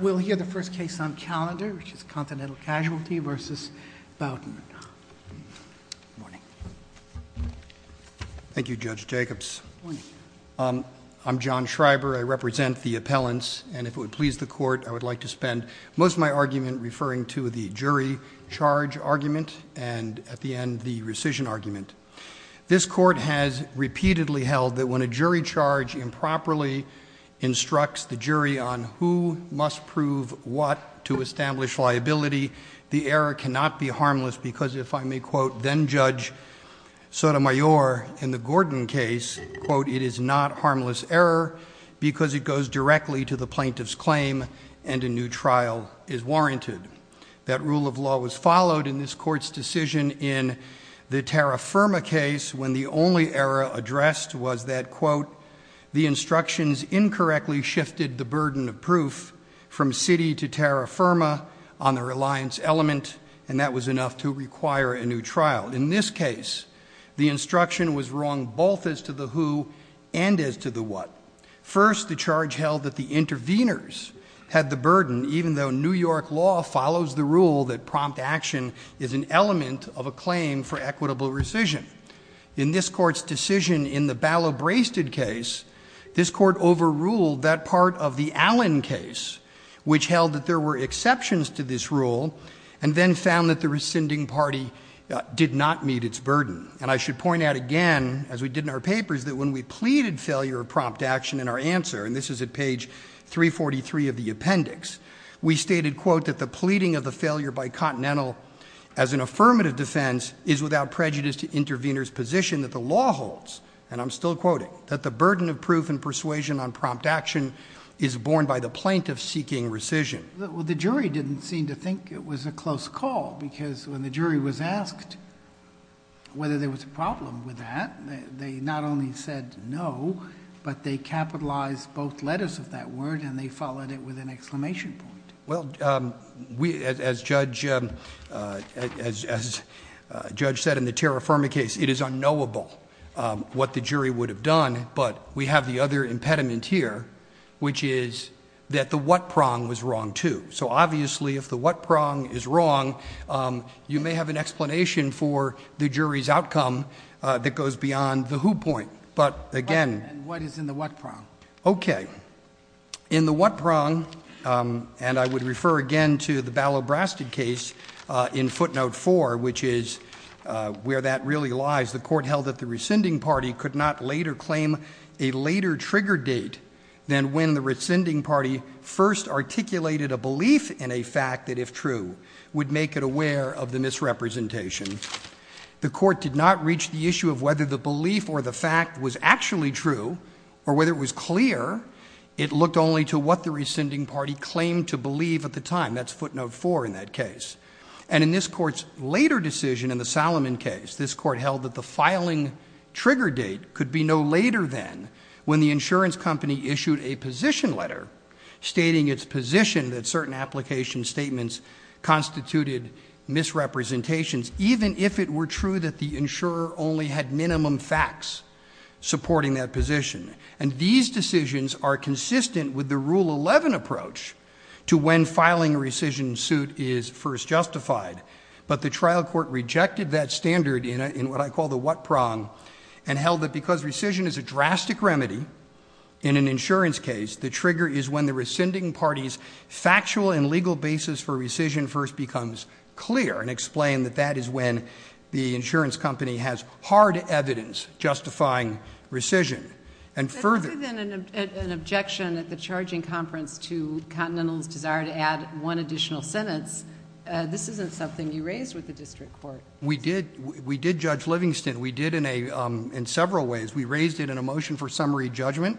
We'll hear the first case on calendar, which is Continental Casualty v. Bowden. Thank you, Judge Jacobs. I'm John Schreiber. I represent the appellants, and if it would please the court, I would like to spend most of my argument referring to the jury charge argument and, at the end, the rescission argument. This court has repeatedly held that when a jury charge improperly instructs the jury on who must prove what to establish liability, the error cannot be harmless because, if I may quote then-judge Sotomayor in the Gordon case, quote, it is not harmless error because it goes directly to the plaintiff's claim and a new trial is warranted. That rule of law was followed in this court's decision in the Tara Firma case, when the only error addressed was that, quote, the instructions incorrectly shifted the burden of proof from city to Tara Firma on the reliance element, and that was enough to require a new trial. In this case, the instruction was wrong both as to the who and as to the what. First, the charge held that the interveners had the burden, even though New York law follows the rule that in this court's decision in the Ballow-Brasted case, this court overruled that part of the Allen case, which held that there were exceptions to this rule, and then found that the rescinding party did not meet its burden. And I should point out again, as we did in our papers, that when we pleaded failure of prompt action in our answer, and this is at page 343 of the appendix, we stated, quote, that the pleading of the failure by Continental as an affirmative defense is without prejudice to intervener's position that the law holds, and I'm still quoting, that the burden of proof and persuasion on prompt action is borne by the plaintiff seeking rescission. Well, the jury didn't seem to think it was a close call, because when the jury was asked whether there was a problem with that, they not only said no, but they capitalized both letters of that word, and they followed it with an exclamation point. Well, as Judge said in the Terra Firma case, it is unknowable what the jury would have done, but we have the other impediment here, which is that the what prong was wrong, too. So obviously, if the what prong is wrong, you may have an explanation for the jury's outcome that goes beyond the who point, but again- What is in the what prong? Okay, in the what prong, and I would refer again to the Ballot-Brasted case in footnote four, which is where that really lies, the court held that the rescinding party could not later claim a later trigger date than when the rescinding party first articulated a belief in a fact that, if true, would make it aware of the misrepresentation. The court did not reach the issue of whether the belief or the fact was actually true, or whether it was clear. It looked only to what the rescinding party claimed to believe at the time, that's footnote four in that case. And in this court's later decision in the Salomon case, this court held that the filing trigger date could be no later than when the insurance company issued a position letter, stating its position that certain application statements constituted misrepresentations, even if it were true that the insurer only had minimum facts supporting that position. And these decisions are consistent with the Rule 11 approach to when filing a rescission suit is first justified. But the trial court rejected that standard in what I call the what prong, and held that because rescission is a drastic remedy in an insurance case, the trigger is when the rescinding party's factual and legal basis for the rescission is when the insurance company has hard evidence justifying rescission. And further- It's within an objection at the charging conference to Continental's desire to add one additional sentence. This isn't something you raised with the district court. We did, we did judge Livingston. We did in several ways. We raised it in a motion for summary judgment.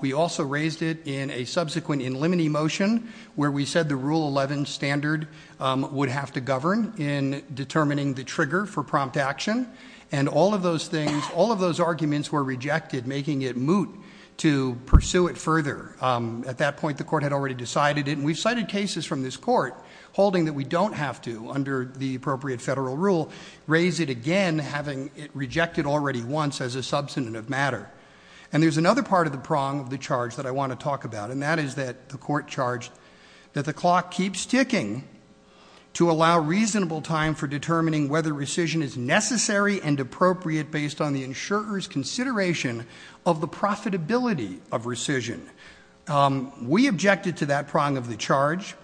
We also raised it in a subsequent in limine motion, where we said the Rule 11 standard would have to govern in determining the trigger for prompt action. And all of those things, all of those arguments were rejected, making it moot to pursue it further. At that point, the court had already decided it. And we've cited cases from this court holding that we don't have to, under the appropriate federal rule, raise it again having it rejected already once as a substantive matter. And there's another part of the prong of the charge that I want to talk about. And that is that the court charged that the clock keeps ticking to allow reasonable time for determining whether rescission is necessary and appropriate based on the insurer's consideration of the profitability of rescission. We objected to that prong of the charge.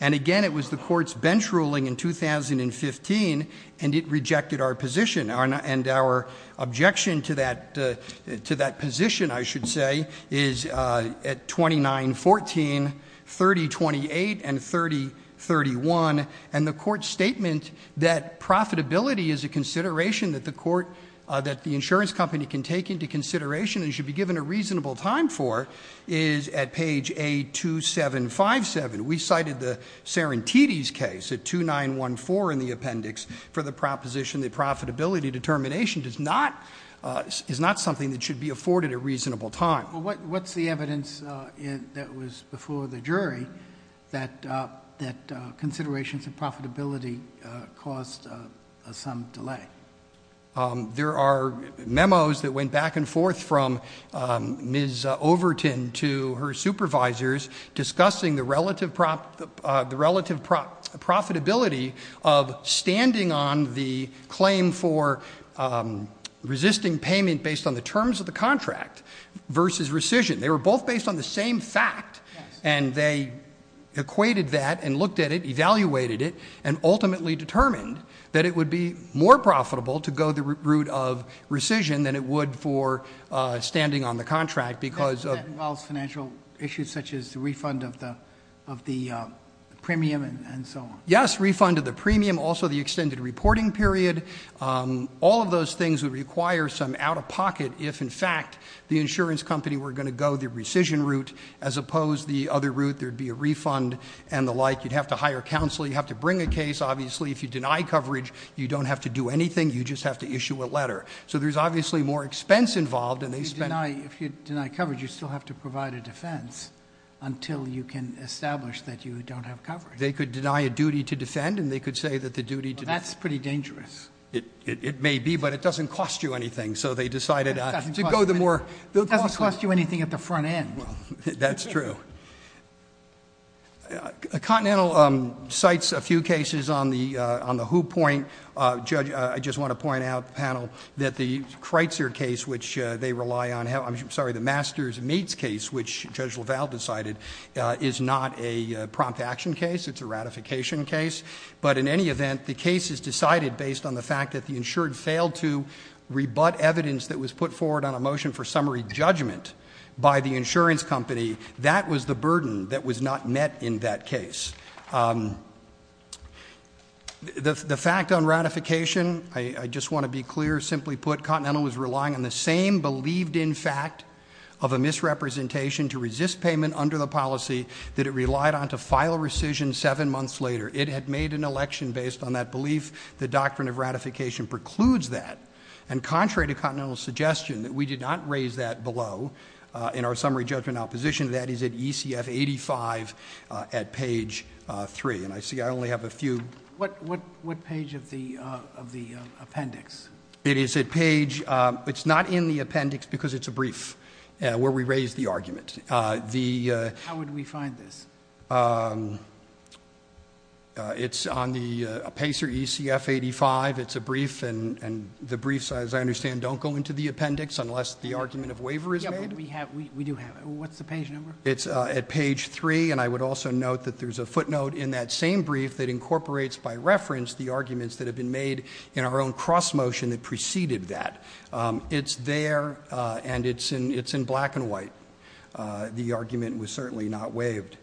And again, it was the court's bench ruling in 2015, and it rejected our position. And our objection to that position, I should say, is at 2914, 3028, and 3031. And the court's statement that profitability is a consideration that the insurance company can take into consideration and should be given a reasonable time for is at page A2757. We cited the Serenitides case at 2914 in the appendix for the proposition that profitability determination is not something that should be afforded a reasonable time. What's the evidence that was before the jury that considerations of profitability caused some delay? There are memos that went back and forth from Ms. Overton to her supervisors discussing the relative profitability of standing on the claim for his rescission, they were both based on the same fact. And they equated that and looked at it, evaluated it, and ultimately determined that it would be more profitable to go the route of rescission than it would for standing on the contract because of- That involves financial issues such as the refund of the premium and so on. Yes, refund of the premium, also the extended reporting period. All of those things would require some out of pocket if in fact the insurance company were going to go the rescission route. As opposed the other route, there'd be a refund and the like. You'd have to hire counsel, you'd have to bring a case. Obviously, if you deny coverage, you don't have to do anything, you just have to issue a letter. So there's obviously more expense involved and they spend- If you deny coverage, you still have to provide a defense until you can establish that you don't have coverage. They could deny a duty to defend and they could say that the duty to- That's pretty dangerous. It may be, but it doesn't cost you anything. So they decided to go the more- It doesn't cost you anything at the front end. That's true. Continental cites a few cases on the who point. Judge, I just want to point out to the panel that the Kreitzer case, which they rely on. I'm sorry, the Master's Meats case, which Judge LaValle decided is not a prompt action case. It's a ratification case. But in any event, the case is decided based on the fact that the insured failed to rebut evidence that was put forward on a motion for summary judgment by the insurance company. That was the burden that was not met in that case. The fact on ratification, I just want to be clear. Simply put, Continental was relying on the same believed in fact of a misrepresentation to resist payment under the policy that it relied on to file rescission seven months later. It had made an election based on that belief. The doctrine of ratification precludes that. And contrary to Continental's suggestion, that we did not raise that below in our summary judgment opposition. That is at ECF 85 at page three. And I see I only have a few. What page of the appendix? It is at page, it's not in the appendix because it's a brief where we raise the argument. The- How would we find this? It's on the PACER ECF 85, it's a brief. And the briefs, as I understand, don't go into the appendix unless the argument of waiver is made? Yeah, but we do have it. What's the page number? It's at page three, and I would also note that there's a footnote in that same brief that incorporates, by reference, the arguments that have been made in our own cross motion that preceded that. It's there, and it's in black and white. The argument was certainly not waived.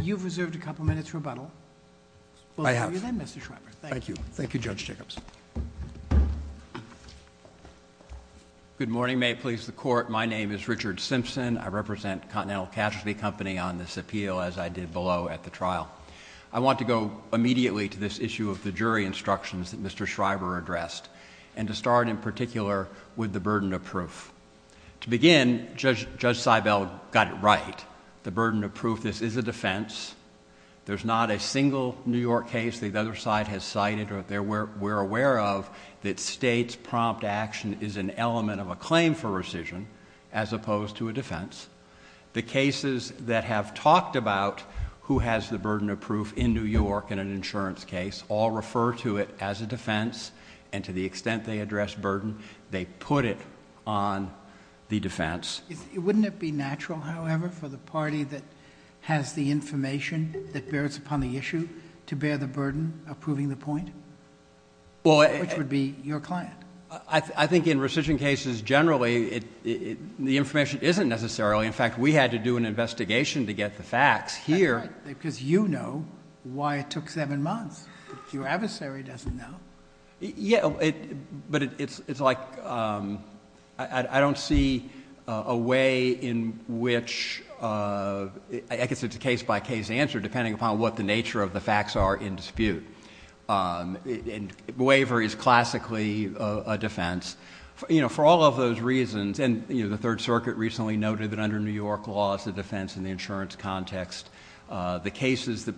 You've reserved a couple minutes rebuttal. I have. We'll hear you then, Mr. Schreiber. Thank you. Thank you, Judge Jacobs. Good morning, may it please the court. My name is Richard Simpson. I represent Continental Casualty Company on this appeal, as I did below at the trial. I want to go immediately to this issue of the jury instructions that Mr. Schreiber addressed. And to start in particular with the burden of proof. To begin, Judge Seibel got it right. The burden of proof, this is a defense. There's not a single New York case the other side has cited or we're aware of that states prompt action is an element of a claim for rescission, as opposed to a defense. The cases that have talked about who has the burden of proof in New York in an insurance case, all refer to it as a defense, and to the extent they address burden, they put it on the defense. Wouldn't it be natural, however, for the party that has the information that bears upon the issue, to bear the burden of proving the point, which would be your client? I think in rescission cases, generally, the information isn't necessarily. In fact, we had to do an investigation to get the facts here. That's right, because you know why it took seven months. Your adversary doesn't know. Yeah, but it's like, I don't see a way in which, I guess it's a case by case answer, depending upon what the nature of the facts are in dispute. Waiver is classically a defense. For all of those reasons, and the Third Circuit recently noted that under New York laws, the defense in the insurance context, the cases that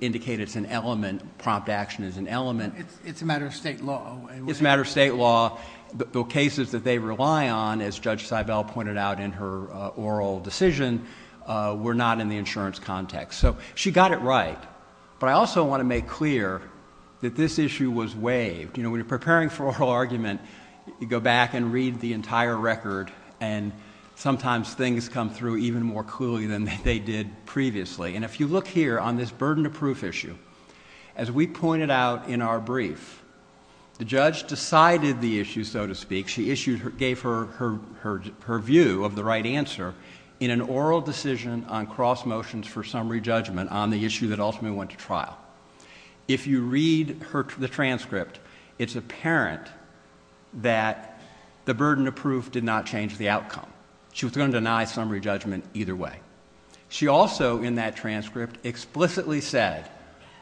indicate it's an element, prompt action is an element. It's a matter of state law. It's a matter of state law. The cases that they rely on, as Judge Seibel pointed out in her oral decision, were not in the insurance context. So she got it right, but I also want to make clear that this issue was waived. When you're preparing for oral argument, you go back and read the entire record, and sometimes things come through even more clearly than they did previously. And if you look here on this burden of proof issue, as we pointed out in our brief, the judge decided the issue, so to speak. She issued, gave her view of the right answer in an oral decision on cross motions for summary judgment on the issue that ultimately went to trial. If you read the transcript, it's apparent that the burden of proof did not change the outcome. She was going to deny summary judgment either way. She also, in that transcript, explicitly said,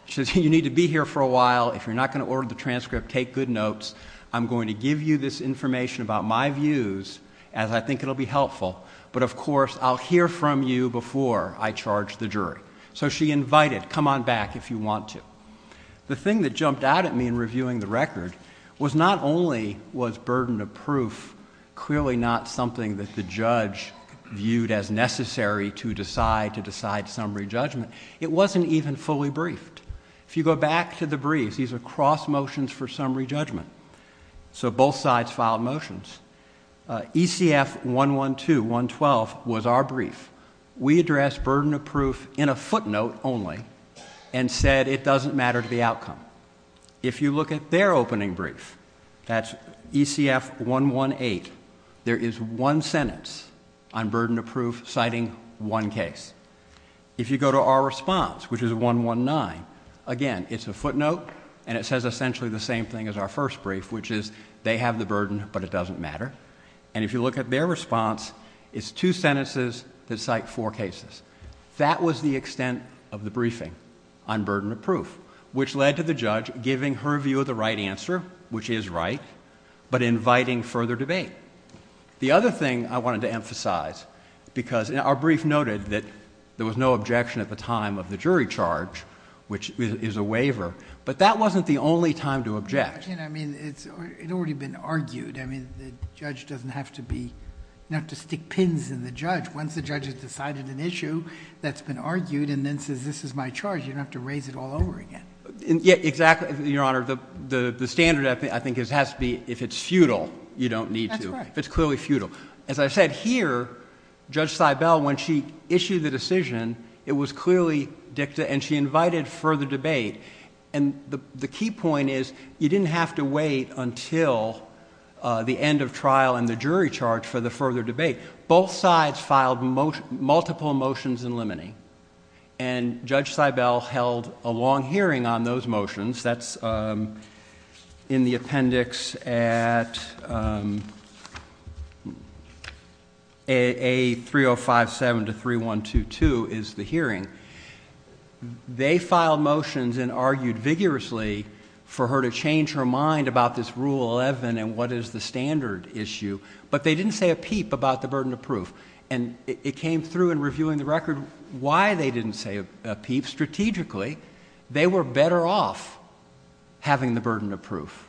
she said, you need to be here for a while. If you're not going to order the transcript, take good notes. I'm going to give you this information about my views, as I think it'll be helpful. But of course, I'll hear from you before I charge the jury. So she invited, come on back if you want to. The thing that jumped out at me in reviewing the record was not only was burden of proof clearly not something that the judge viewed as necessary to decide to decide summary judgment. It wasn't even fully briefed. If you go back to the briefs, these are cross motions for summary judgment. So both sides filed motions. ECF 112 was our brief. We addressed burden of proof in a footnote only and said it doesn't matter to the outcome. If you look at their opening brief, that's ECF 118, there is one sentence on burden of proof citing one case. If you go to our response, which is 119, again, it's a footnote and it says essentially the same thing as our first brief, which is they have the burden but it doesn't matter. And if you look at their response, it's two sentences that cite four cases. That was the extent of the briefing on burden of proof, which led to the judge giving her view of the right answer, which is right. But inviting further debate. The other thing I wanted to emphasize, because our brief noted that there was no objection at the time of the jury charge, which is a waiver. But that wasn't the only time to object. I mean, it's already been argued. I mean, the judge doesn't have to be, not to stick pins in the judge. Once the judge has decided an issue that's been argued and then says, this is my charge, you don't have to raise it all over again. Yeah, exactly, your honor, the standard, I think, has to be if it's futile, you don't need to. That's correct. If it's clearly futile. As I said here, Judge Seibel, when she issued the decision, it was clearly dicta and she invited further debate. And the key point is, you didn't have to wait until the end of trial and the jury charge for the further debate. Both sides filed multiple motions in limine. And Judge Seibel held a long hearing on those motions. That's in the appendix at A 3057 to 3122 is the hearing. They filed motions and argued vigorously for her to change her mind about this rule 11 and what is the standard issue. But they didn't say a peep about the burden of proof. And it came through in reviewing the record why they didn't say a peep. Strategically, they were better off having the burden of proof.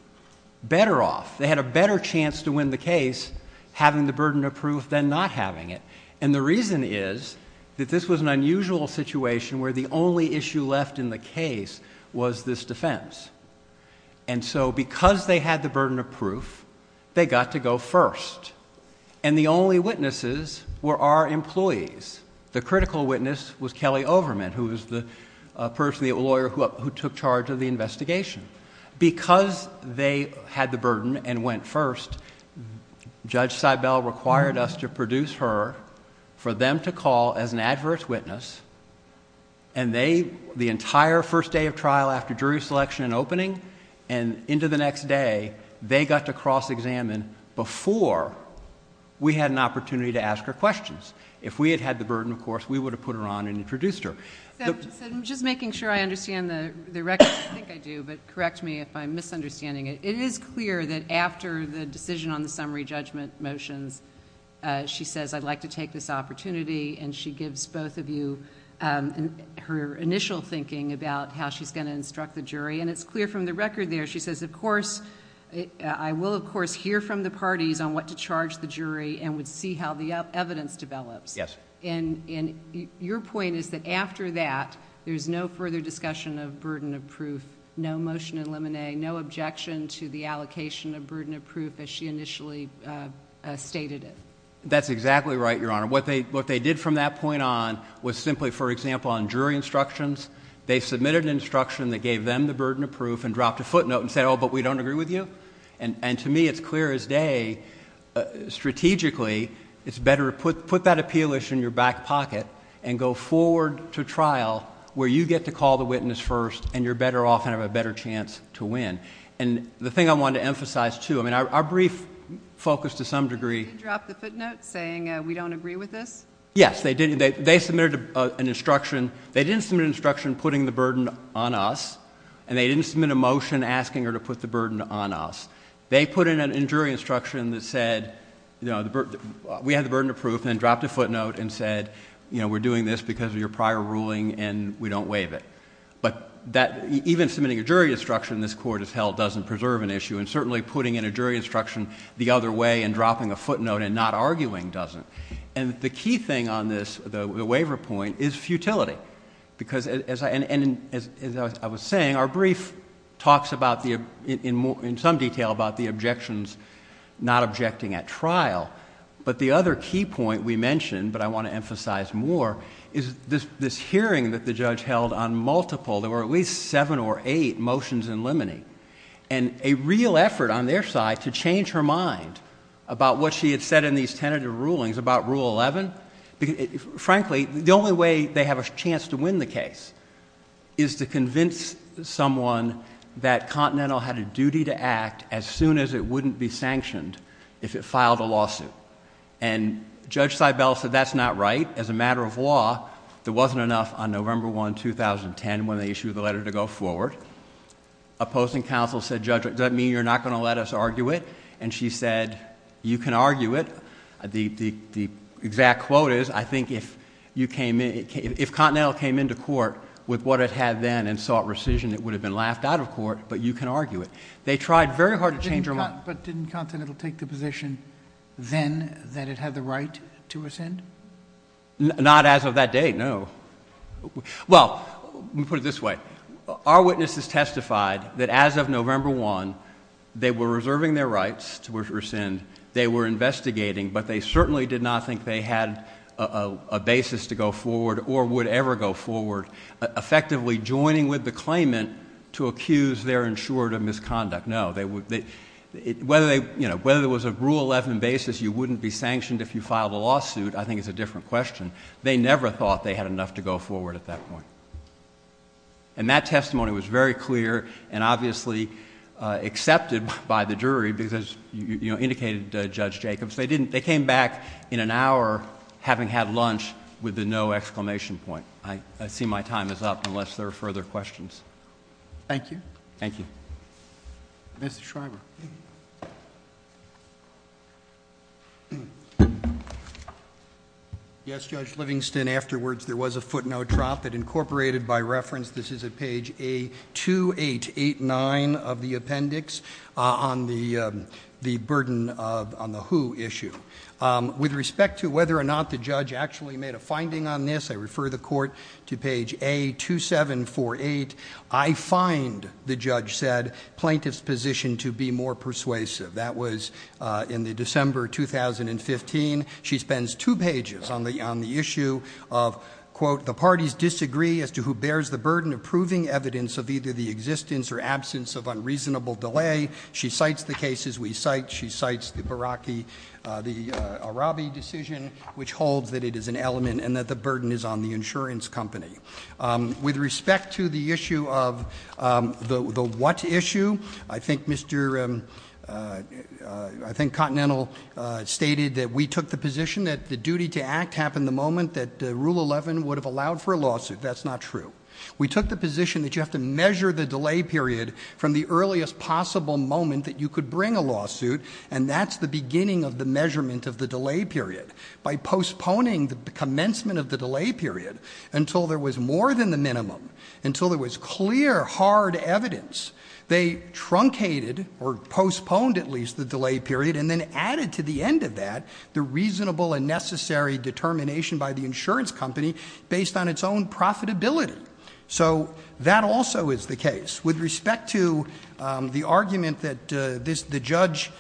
Better off, they had a better chance to win the case having the burden of proof than not having it. And the reason is that this was an unusual situation where the only issue left in the case was this defense. And so because they had the burden of proof, they got to go first. And the only witnesses were our employees. The critical witness was Kelly Overman, who was the person, the lawyer who took charge of the investigation. Because they had the burden and went first, Judge Seibel required us to produce her for them to call as an adverse witness. And they, the entire first day of trial after jury selection and opening and into the next day, they got to cross examine before we had an opportunity to ask her questions. If we had had the burden, of course, we would have put her on and introduced her. So I'm just making sure I understand the record, I think I do, but correct me if I'm misunderstanding it. It is clear that after the decision on the summary judgment motions, she says I'd like to take this opportunity and she gives both of you her initial thinking about how she's going to instruct the jury. And it's clear from the record there, she says of course, I will of course hear from the parties on what to charge the jury and would see how the evidence develops. Yes. And your point is that after that, there's no further discussion of burden of proof. No motion to eliminate, no objection to the allocation of burden of proof as she initially stated it. That's exactly right, Your Honor. What they did from that point on was simply, for example, on jury instructions, they submitted an instruction that gave them the burden of proof and dropped a footnote and said, but we don't agree with you. And to me, it's clear as day, strategically, it's better to put that appeal issue in your back pocket and go forward to trial where you get to call the witness first and you're better off and have a better chance to win. And the thing I wanted to emphasize, too, I mean our brief focus to some degree- They didn't drop the footnote saying we don't agree with this? Yes, they submitted an instruction. They didn't submit an instruction putting the burden on us, and they didn't submit a motion asking her to put the burden on us. They put in a jury instruction that said, we have the burden of proof and dropped a footnote and said, we're doing this because of your prior ruling and we don't waive it. But even submitting a jury instruction in this court as hell doesn't preserve an issue. And certainly putting in a jury instruction the other way and dropping a footnote and not arguing doesn't. And the key thing on this, the waiver point, is futility. Because as I was saying, our brief talks in some detail about the objections not objecting at trial. But the other key point we mentioned, but I want to emphasize more, is this hearing that the judge held on multiple. There were at least seven or eight motions in limine. And a real effort on their side to change her mind about what she had said in these tentative rulings about rule 11. Frankly, the only way they have a chance to win the case is to convince someone that Continental had a duty to act as soon as it wouldn't be sanctioned if it filed a lawsuit. And Judge Seibel said that's not right. As a matter of law, there wasn't enough on November 1, 2010 when they issued the letter to go forward. Opposing counsel said, Judge, does that mean you're not going to let us argue it? And she said, you can argue it. The exact quote is, I think if Continental came into court with what it had then and sought rescission, it would have been laughed out of court, but you can argue it. They tried very hard to change her mind. But didn't Continental take the position then that it had the right to rescind? Not as of that date, no. Well, let me put it this way. Our witnesses testified that as of November 1, they were reserving their rights to rescind. They were investigating, but they certainly did not think they had a basis to go forward or would ever go forward, effectively joining with the claimant to accuse their insurer of misconduct. No, whether it was a rule 11 basis, you wouldn't be sanctioned if you filed a lawsuit, I think it's a different question. They never thought they had enough to go forward at that point. And that testimony was very clear and obviously accepted by the jury, because as you indicated, Judge Jacobs. They came back in an hour having had lunch with a no exclamation point. I see my time is up, unless there are further questions. Thank you. Thank you. Mr. Schreiber. Yes, Judge Livingston, afterwards there was a footnote drop that incorporated by reference. This is at page A2889 of the appendix on the burden on the who issue. With respect to whether or not the judge actually made a finding on this, I refer the court to page A2748. I find, the judge said, plaintiff's position to be more persuasive. That was in the December 2015. She spends two pages on the issue of, quote, the parties disagree as to who bears the burden of proving evidence of either the existence or absence of unreasonable delay. She cites the cases we cite, she cites the Baraki, the Arabi decision, which holds that it is an element and that the burden is on the insurance company. With respect to the issue of the what issue, I think Mr. I think Continental stated that we took the position that the duty to act happened the moment that rule 11 would have allowed for a lawsuit. That's not true. We took the position that you have to measure the delay period from the earliest possible moment that you could bring a lawsuit. And that's the beginning of the measurement of the delay period. By postponing the commencement of the delay period until there was more than the minimum, until there was clear, hard evidence, they truncated or postponed at least the delay period and then added to the end of that the reasonable and necessary determination by the insurance company based on its own profitability. So that also is the case. With respect to the argument that the judge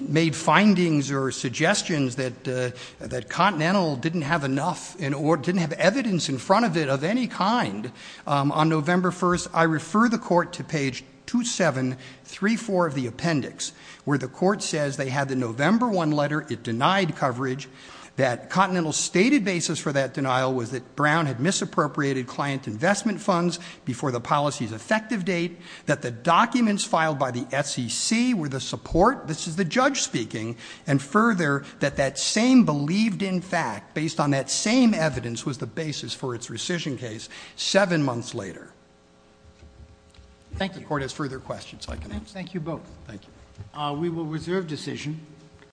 made findings or that Continental didn't have enough or didn't have evidence in front of it of any kind on November 1st, I refer the court to page 2734 of the appendix, where the court says they had the November 1 letter, it denied coverage. That Continental's stated basis for that denial was that Brown had misappropriated client investment funds before the policy's effective date. That the documents filed by the SEC were the support, this is the judge speaking. And further, that that same believed in fact, based on that same evidence was the basis for its rescission case, seven months later. Thank you. The court has further questions, I can answer. Thank you both. Thank you. We will reserve decision.